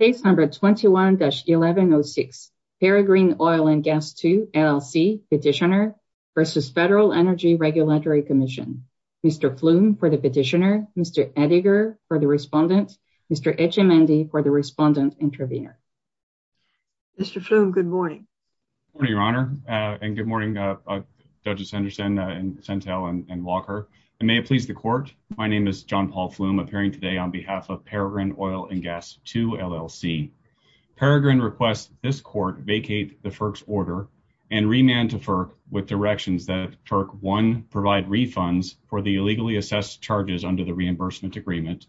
Case number 21-1106, Peregrine Oil & Gas II, LLC, Petitioner v. Federal Energy Regulatory Commission. Mr. Flum for the Petitioner, Mr. Ettinger for the Respondent, Mr. Etchemendy for the Respondent-Intervenor. Mr. Flum, good morning. Good morning, Your Honor, and good morning, uh, uh, Judges Sanderson, uh, and Sentel and Walker, and may it please the Court, my name is John Paul Flum, appearing today on behalf of Peregrine Oil & Gas II, LLC. Peregrine requests this Court vacate the FERC's order and remand to FERC with directions that FERC, one, provide refunds for the illegally assessed charges under the reimbursement agreement,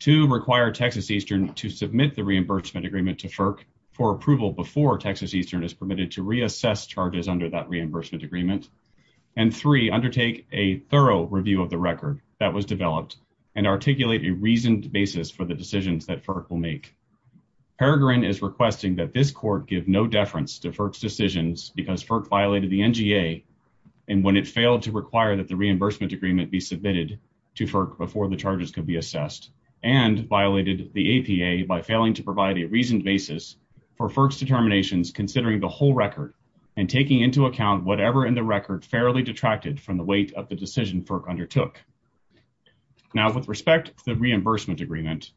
two, require Texas Eastern to submit the reimbursement agreement to FERC for approval before Texas Eastern is permitted to reassess charges under that reimbursement agreement, and three, undertake a thorough review of the record that was developed and articulate a reasoned basis for the decisions that FERC will make. Peregrine is requesting that this Court give no deference to FERC's decisions because FERC violated the NGA, and when it failed to require that the reimbursement agreement be submitted to FERC before the charges could be assessed, and violated the APA by failing to provide a reasoned basis for FERC's determinations considering the whole record and taking into account whatever in the record fairly detracted from the weight of the decision FERC undertook. Now, with respect to the reimbursement agreement,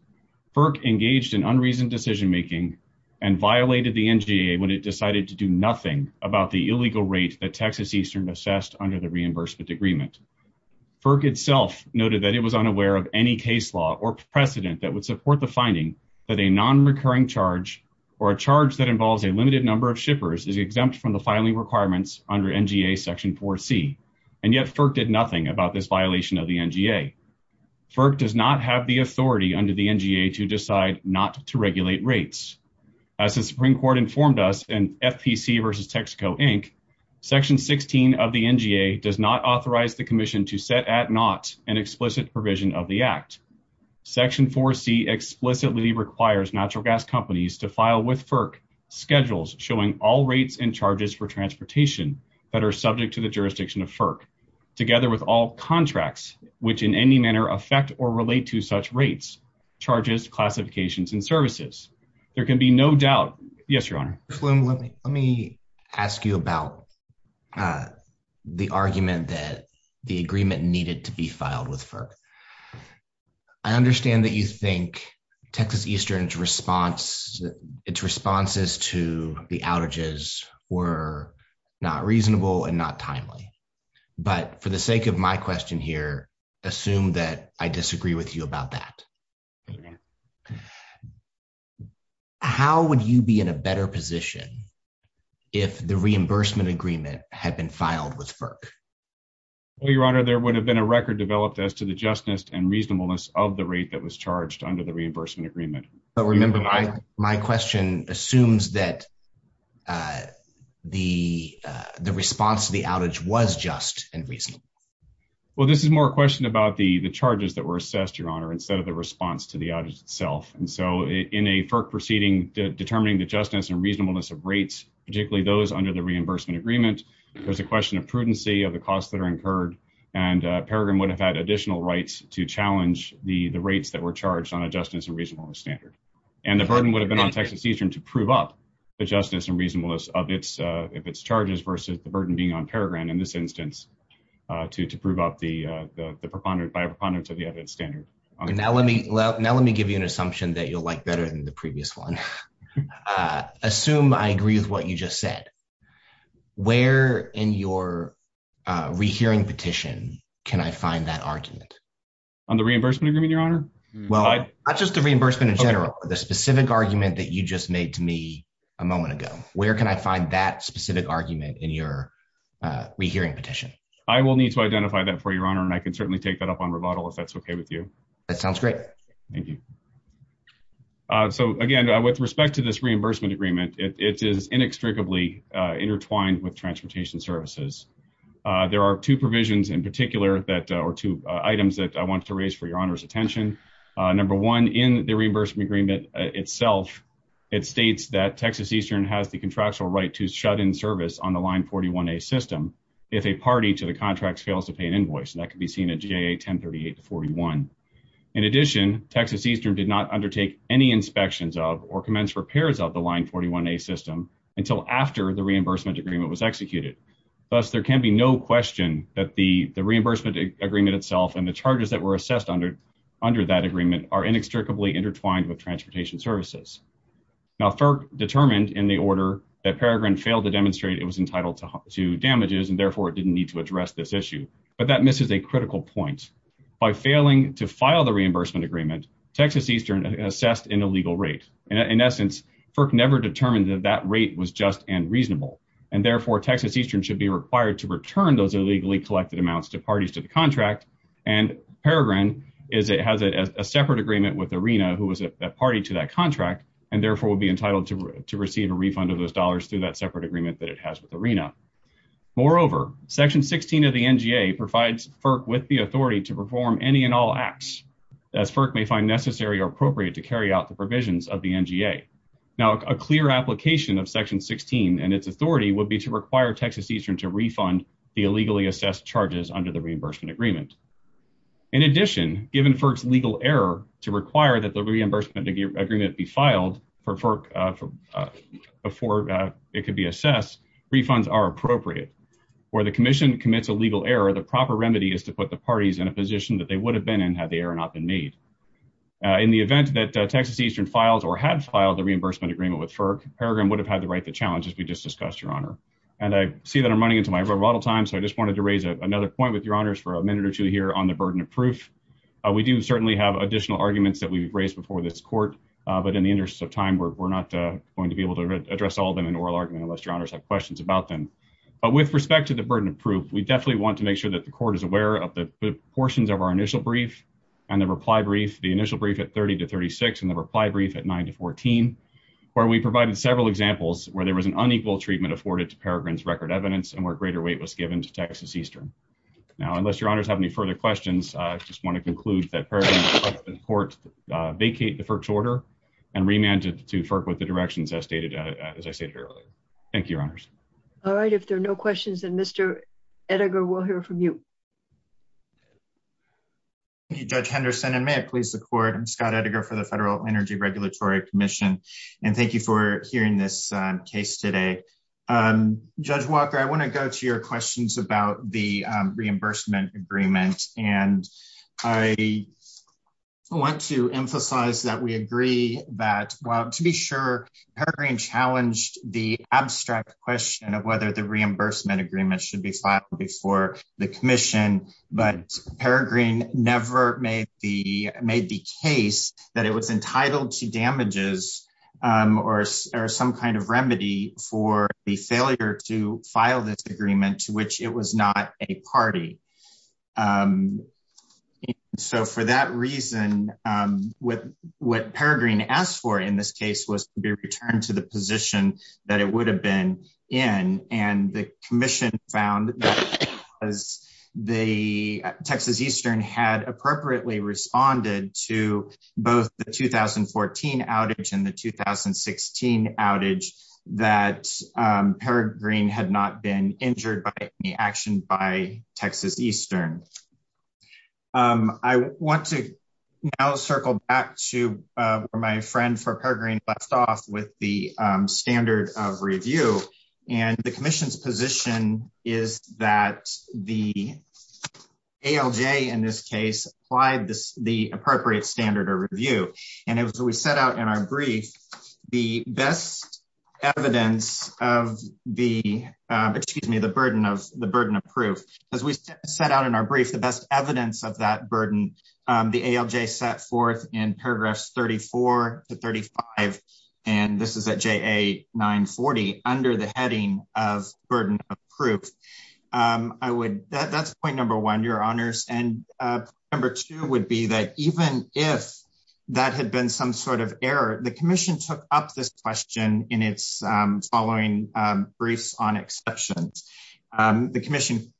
FERC engaged in unreasoned decision-making and violated the NGA when it decided to do nothing about the illegal rate that Texas Eastern assessed under the reimbursement agreement. FERC itself noted that it was unaware of any case law or precedent that would support the finding that a non-recurring charge or a charge that involves a limited number of shippers is exempt from the filing requirements under NGA Section 4C, and yet FERC did nothing about this violation of the NGA. FERC does not have the authority under the NGA to decide not to regulate rates. As the Supreme Court informed us in FPC v. Texaco, Inc., Section 16 of the NGA does not authorize the Commission to set at naught an explicit provision of the Act. Section 4C explicitly requires natural gas to file with FERC schedules showing all rates and charges for transportation that are subject to the jurisdiction of FERC, together with all contracts which in any manner affect or relate to such rates, charges, classifications, and services. There can be no doubt. Yes, Your Honor. Mr. Sloan, let me ask you about the argument that the agreement needed to be filed with FERC. I understand that you think Texas Eastern's response, its responses to the outages were not reasonable and not timely, but for the sake of my question here, assume that I disagree with you about that. How would you be in a better position if the reimbursement agreement had been filed with FERC? Well, Your Honor, there would have been a record developed as to the justness and reasonableness of the rate that was charged under the reimbursement agreement. But remember, my question assumes that the response to the outage was just and reasonable. Well, this is more a question about the charges that were assessed, Your Honor, instead of the response to the outage itself. And so in a FERC proceeding determining the justness and reasonableness of rates, particularly those under the reimbursement agreement, there's a question of prudency of the costs that are incurred. And Peregrine would have had additional rights to challenge the rates that were charged on a justness and reasonableness standard. And the burden would have been on Texas Eastern to prove up the justness and reasonableness of its charges versus the burden being on Peregrine in this instance to prove up the preponderance of the evidence standard. Now, let me give you an assumption that you'll like what you just said. Where in your rehearing petition can I find that argument? On the reimbursement agreement, Your Honor? Well, not just the reimbursement in general, the specific argument that you just made to me a moment ago. Where can I find that specific argument in your rehearing petition? I will need to identify that for you, Your Honor, and I can certainly take that up on rebuttal if that's okay with you. That sounds great. Thank you. So again, with respect to this reimbursement agreement, it is inextricably intertwined with transportation services. There are two provisions in particular or two items that I want to raise for Your Honor's attention. Number one, in the reimbursement agreement itself, it states that Texas Eastern has the contractual right to shut in service on the Line 41A system if a party to the contract fails to pay an invoice. And that could be seen at GA 1038-41. In addition, Texas Eastern did not undertake any inspections of or commence repairs of the Line 41A system until after the reimbursement agreement was executed. Thus, there can be no question that the reimbursement agreement itself and the charges that were assessed under that agreement are inextricably intertwined with transportation services. Now, FERC determined in the order that Peregrine failed to demonstrate it was entitled to damages and therefore it didn't need to address this issue. But that misses a critical point. By failing to file the reimbursement agreement, Texas Eastern assessed an illegal rate. In essence, FERC never determined that that rate was just and reasonable. And therefore, Texas Eastern should be required to return those illegally collected amounts to parties to the contract. And Peregrine has a separate agreement with ARENA, who was a party to that contract, and therefore would be entitled to receive a refund of those dollars through that separate agreement that it has with ARENA. Moreover, Section 16 of the appropriate to carry out the provisions of the NGA. Now, a clear application of Section 16 and its authority would be to require Texas Eastern to refund the illegally assessed charges under the reimbursement agreement. In addition, given FERC's legal error to require that the reimbursement agreement be filed before it could be assessed, refunds are appropriate. Where the commission commits a legal error, the proper remedy is to put the parties in a position that they would have been in had the error not been made. In the event that Texas Eastern files or had filed the reimbursement agreement with FERC, Peregrine would have had the right to challenge, as we just discussed, Your Honor. And I see that I'm running into my rebuttal time, so I just wanted to raise another point with Your Honors for a minute or two here on the burden of proof. We do certainly have additional arguments that we've raised before this court, but in the interest of time, we're not going to be able to address all of them in oral argument unless Your Honors have questions about them. But with respect to the burden of proof, we definitely want to make sure that the court is and the reply brief, the initial brief at 30 to 36, and the reply brief at 9 to 14, where we provided several examples where there was an unequal treatment afforded to Peregrine's record evidence and where greater weight was given to Texas Eastern. Now, unless Your Honors have any further questions, I just want to conclude that Peregrine and the Court vacate the FERC's order and remand it to FERC with the directions as I stated earlier. Thank you, Your Honors. All right. If there are no questions, then Mr. Edinger, we'll hear from you. Thank you, Judge Henderson, and may it please the Court. I'm Scott Edinger for the Federal Energy Regulatory Commission, and thank you for hearing this case today. Judge Walker, I want to go to your questions about the reimbursement agreement, and I want to emphasize that we agree that, well, to be sure, Peregrine challenged the abstract question of whether the made the case that it was entitled to damages or some kind of remedy for the failure to file this agreement to which it was not a party. And so for that reason, what Peregrine asked for in this case was to be returned to the position that it would have been in, and the commission found that the Texas Eastern had appropriately responded to both the 2014 outage and the 2016 outage that Peregrine had not been injured by any action by Texas Eastern. I want to now circle back to where my friend for Peregrine left off with the standard of review, and the commission's position is that the ALJ in this case applied the appropriate standard of review, and as we set out in our brief, the best evidence of the burden of proof, as we set out in our brief, the best evidence of that burden, the ALJ set forth in paragraphs 34 to 35, and this is JA 940, under the heading of burden of proof. That's point number one, your honors, and number two would be that even if that had been some sort of error, the commission took up this question in its following briefs on exceptions. The commission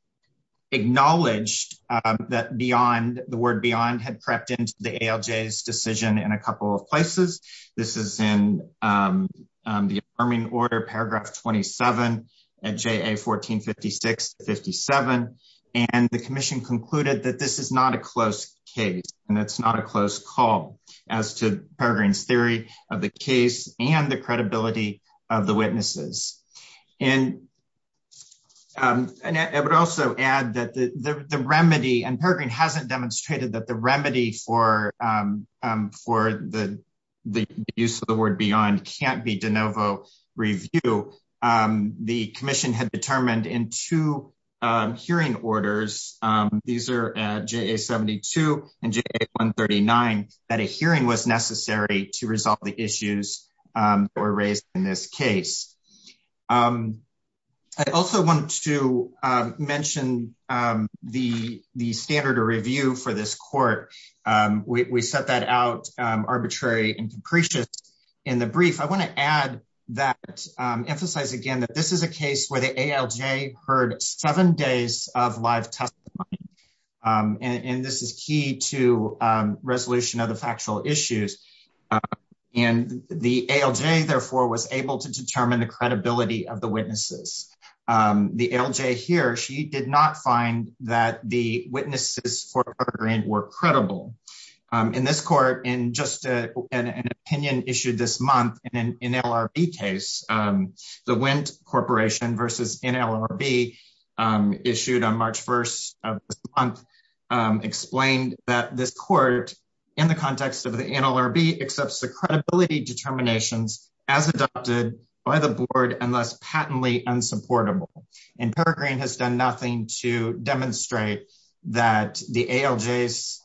acknowledged that the word beyond had crept into the ALJ's decision in a couple of places. This is in the affirming order, paragraph 27 at JA 1456-57, and the commission concluded that this is not a close case, and it's not a close call as to Peregrine's theory of the case and the credibility of the witnesses, and I would also add that the remedy, and Peregrine hasn't demonstrated that the remedy for the use of the word beyond can't be de novo review. The commission had determined in two hearing orders, these are JA 72 and JA 139, that a hearing was necessary to resolve the issues that were raised in this case. I also wanted to mention the standard of review for this court. We set that out arbitrary and capricious in the brief. I want to add that, emphasize again that this is a case where the ALJ heard seven days of live testimony, and this is key to the ALJ. The ALJ therefore was able to determine the credibility of the witnesses. The ALJ here, she did not find that the witnesses for Peregrine were credible. In this court, in just an opinion issued this month in an NLRB case, the Wendt Corporation versus NLRB issued on March 1st of this month, explained that this court, in the context of the NLRB, accepts the credibility determinations as adopted by the board unless patently unsupportable. Peregrine has done nothing to demonstrate that the ALJ's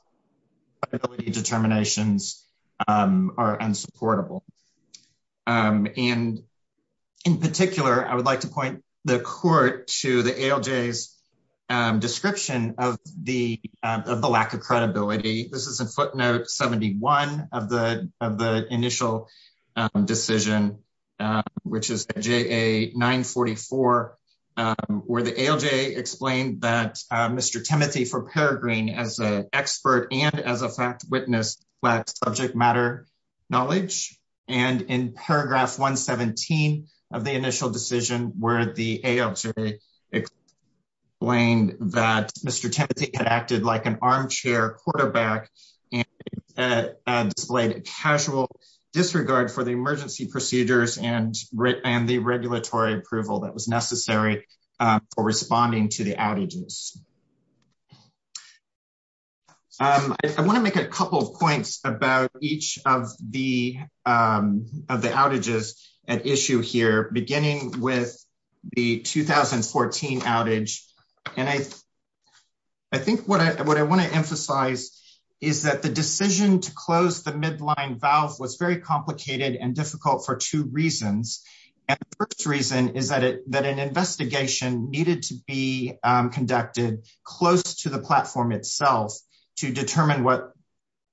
credibility determinations are unsupportable. In particular, I would like to point the court to the ALJ's description of the lack of credibility. This decision, which is JA 944, where the ALJ explained that Mr. Timothy for Peregrine, as an expert and as a fact witness, lacked subject matter knowledge. In paragraph 117 of the initial decision, where the ALJ explained that Mr. Timothy had acted like an armchair quarterback and displayed a casual disregard for the emergency procedures and the regulatory approval that was necessary for responding to the outages. I want to make a couple of points about each of the outages at issue here, beginning with the 2014 outage. I think what I want to emphasize is that the decision to close the midline valve was very complicated and difficult for two reasons. The first reason is that an investigation needed to be conducted close to the platform itself to determine what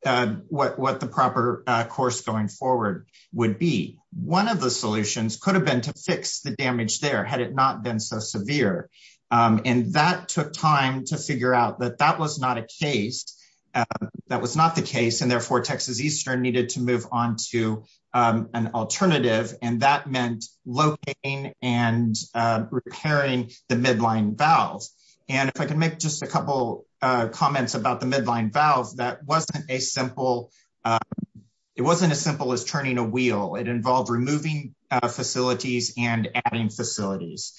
the proper course going forward would be. One of the solutions could have been to fix the damage there, had it not been so severe. That took time to figure out that that was not the case. Therefore, Texas Eastern needed to move on to an alternative. That meant locating and repairing the midline valve. If I can make just a couple of comments about the midline valve, it wasn't as simple as turning a wheel. It involved removing facilities and adding facilities.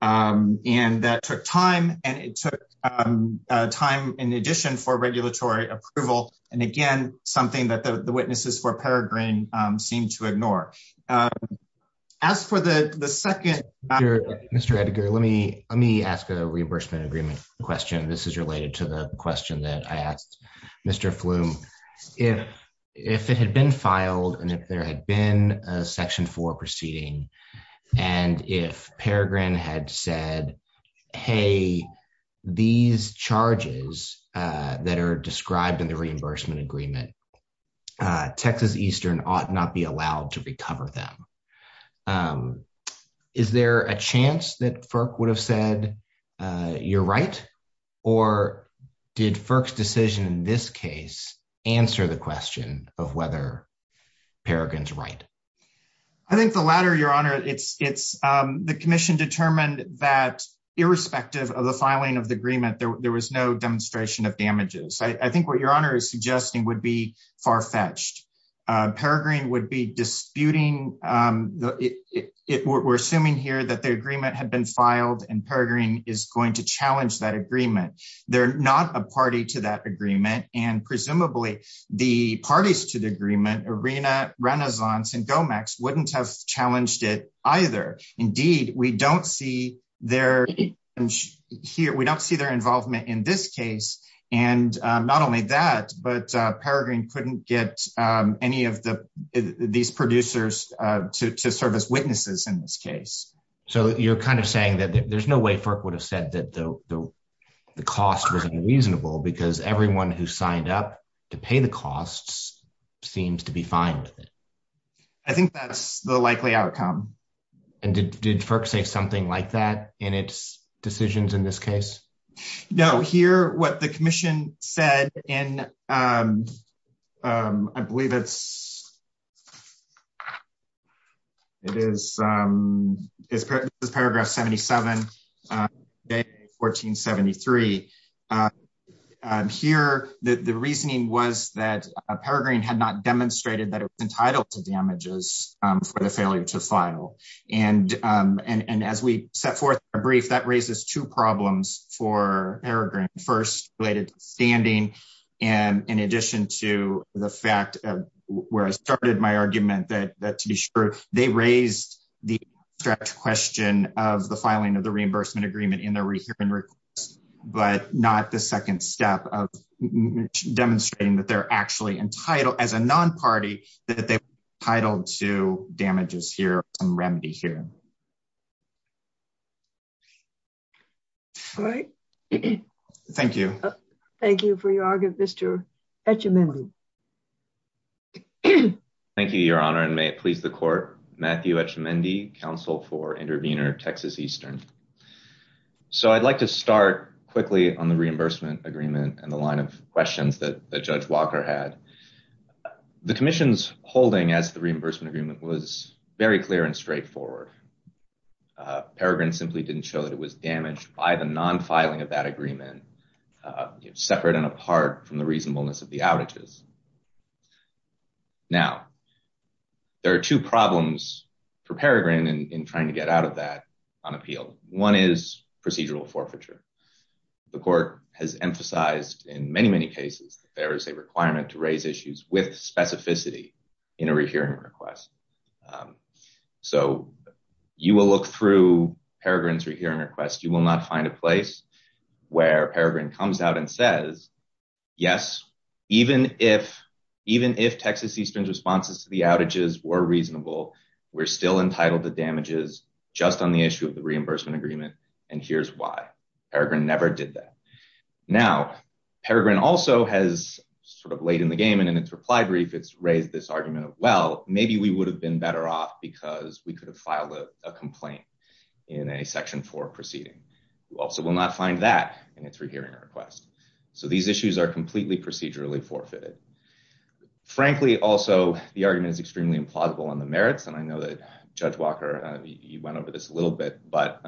That took time, and it took time in addition for regulatory approval. Again, something that the witnesses for Peregrine seemed to ignore. As for the second matter, Mr. Edgar, let me ask a reimbursement agreement question. This is related to the question that I asked Mr. Flume. If it had been filed and if there had been a Section 4 proceeding, and if Peregrine had said, hey, these charges that are described in the reimbursement agreement, Texas Eastern ought not be allowed to recover them. Is there a chance that FERC would have said, you're right? Or did FERC's decision in this case answer the question of whether Peregrine's right? I think the latter, Your Honor. The commission determined that irrespective of the filing of the agreement, there was no demonstration of damages. I think what Your Honor is suggesting would be far-fetched. Peregrine would be disputing. We're assuming here that the agreement had been filed and Peregrine is going to challenge that agreement. They're not a party to that agreement. Presumably, the parties to the agreement, ARENA, Renaissance, and GOMEX, wouldn't have challenged it either. Indeed, we don't see their involvement in this case. Not only that, but Peregrine couldn't get any of these producers to serve as witnesses in this case. You're saying that there's no way FERC would have said that the cost was unreasonable because everyone who signed up to pay the costs seems to be fine with it. I think that's the likely outcome. Did FERC say something like that in its decisions in this case? Here, the reasoning was that Peregrine had not demonstrated that it was entitled to damages for the failure to file. As we set forth in our brief, that raises two problems for Peregrine. First, related to standing. In addition to the fact where I started my argument that to be sure, they raised the abstract question of the filing of the reimbursement agreement in their request, but not the second step of demonstrating that they're actually entitled as a non-party that they're entitled to damages here or some remedy here. Thank you. Thank you for your argument, Mr. Etchemendy. Thank you, Your Honor, and may it please the court. Matthew Etchemendy, counsel for Intervenor Texas Eastern. I'd like to start quickly on the reimbursement agreement and the line of questions that Judge Walker had. The commission's holding as the reimbursement agreement was very clear and straightforward. Peregrine simply didn't show that it was damaged by the non-filing of that agreement, separate and apart from the reasonableness of the outages. Now, there are two problems for Peregrine in trying to get out of that on appeal. One is procedural forfeiture. The court has emphasized in many, many cases, there is a requirement to raise issues with specificity in a rehearing request. So, you will look through Peregrine's rehearing request. You will not find a place where Peregrine comes out and says, yes, even if Texas Eastern's responses to the outages were reasonable, we're still entitled to damages just on the issue of the reimbursement agreement, and here's why. Peregrine never did that. Now, Peregrine also has sort of laid in the game, and in its reply brief, it's raised this argument of, well, maybe we would have been better off because we could have filed a complaint in a Section 4 proceeding. You also will not find that in its rehearing request. So, these issues are completely procedurally forfeited. Frankly, also, the argument is extremely implausible on the merits, and I know that Judge Walker, you went over this a little bit, but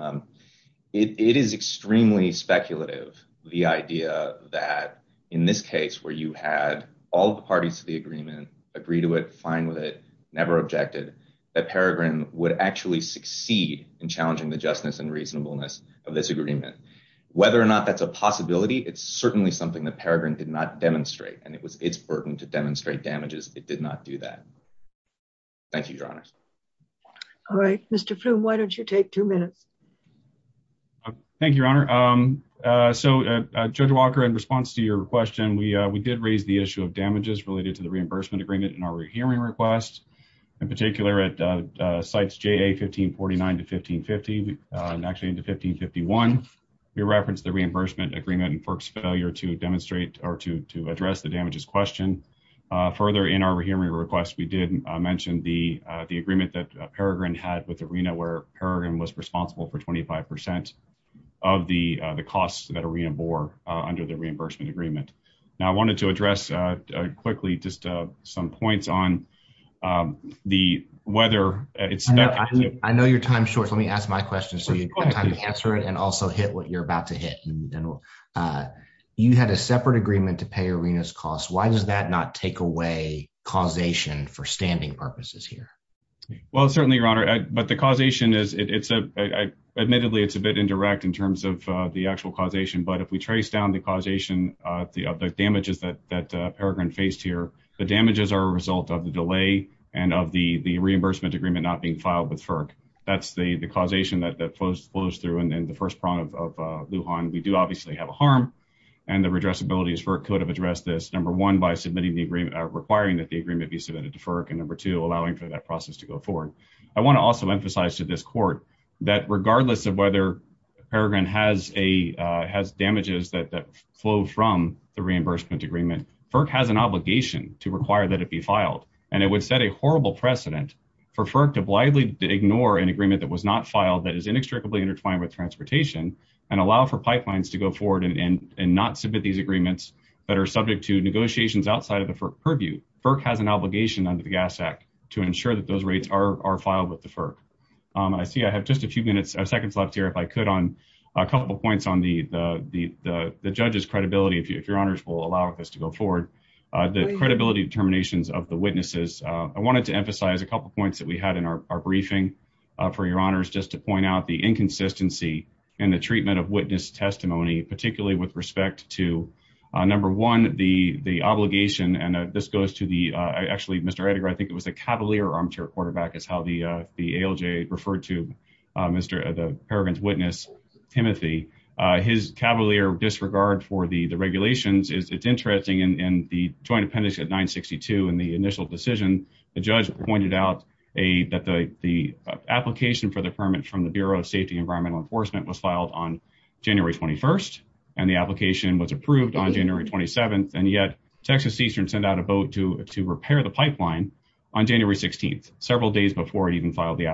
it is extremely speculative, the idea that in this case where you had all the parties to the agreement agree to it, fine with it, never objected, that Peregrine would actually succeed in challenging the justness and reasonableness of this agreement. Whether or not that's a possibility, it's certainly something that Peregrine did not demonstrate, and it was its burden to demonstrate damages. It did not do that. Thank you, Your Honors. All right. Mr. Flum, why don't you take two minutes? Thank you, Your Honor. So, Judge Walker, in response to your question, we did raise the in particular at Sites JA 1549 to 1550, actually into 1551. We referenced the reimbursement agreement and FERC's failure to demonstrate or to address the damages question. Further, in our hearing request, we did mention the agreement that Peregrine had with ARENA where Peregrine was responsible for 25 percent of the costs that ARENA bore under the reimbursement agreement. Now, I wanted to address quickly just some points on the weather. I know you're time short. Let me ask my question so you have time to answer it and also hit what you're about to hit. You had a separate agreement to pay ARENA's costs. Why does that not take away causation for standing purposes here? Well, certainly, Your Honor, but the causation is, admittedly, it's a bit indirect in terms of the actual causation, but if we trace down the damages that Peregrine faced here, the damages are a result of the delay and of the reimbursement agreement not being filed with FERC. That's the causation that flows through in the first prong of Lujan. We do obviously have a harm, and the redressability as FERC could have addressed this, number one, by requiring that the agreement be submitted to FERC, and number two, allowing for that process to go forward. I want to also emphasize to this Court that regardless of whether Peregrine has damages that flow from the reimbursement agreement, FERC has an obligation to require that it be filed, and it would set a horrible precedent for FERC to blithely ignore an agreement that was not filed that is inextricably intertwined with transportation and allow for pipelines to go forward and not submit these agreements that are subject to negotiations outside of the FERC purview. FERC has an obligation under the Gas Act to ensure that those rates are filed with the FERC. I see I have just a few minutes or a couple points on the judge's credibility, if your honors will allow us to go forward, the credibility determinations of the witnesses. I wanted to emphasize a couple points that we had in our briefing for your honors just to point out the inconsistency in the treatment of witness testimony, particularly with respect to, number one, the obligation, and this goes to the, actually, Mr. Edgar, I think it was the cavalier armchair quarterback is how the ALJ referred to the paragon's witness, Timothy. His cavalier disregard for the regulations is, it's interesting in the joint appendix at 962 in the initial decision, the judge pointed out that the application for the permit from the Bureau of Safety and Environmental Enforcement was filed on January 21st, and the application was approved on January 27th, and yet, Texas Seastern sent out a boat to repair the pipeline on January 16th, several days before it even filed the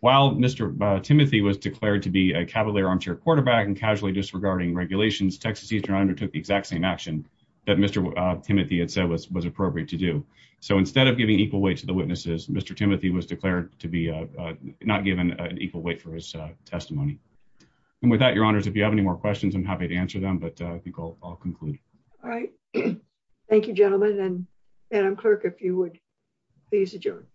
permit. Timothy was declared to be a cavalier armchair quarterback and casually disregarding regulations. Texas Seastern undertook the exact same action that Mr. Timothy had said was appropriate to do. So instead of giving equal weight to the witnesses, Mr. Timothy was declared to be not given an equal weight for his testimony. And with that, your honors, if you have any more questions, I'm happy to answer them, but I think I'll conclude. All right. Thank you, gentlemen, and Madam Clerk, if you would please adjourn.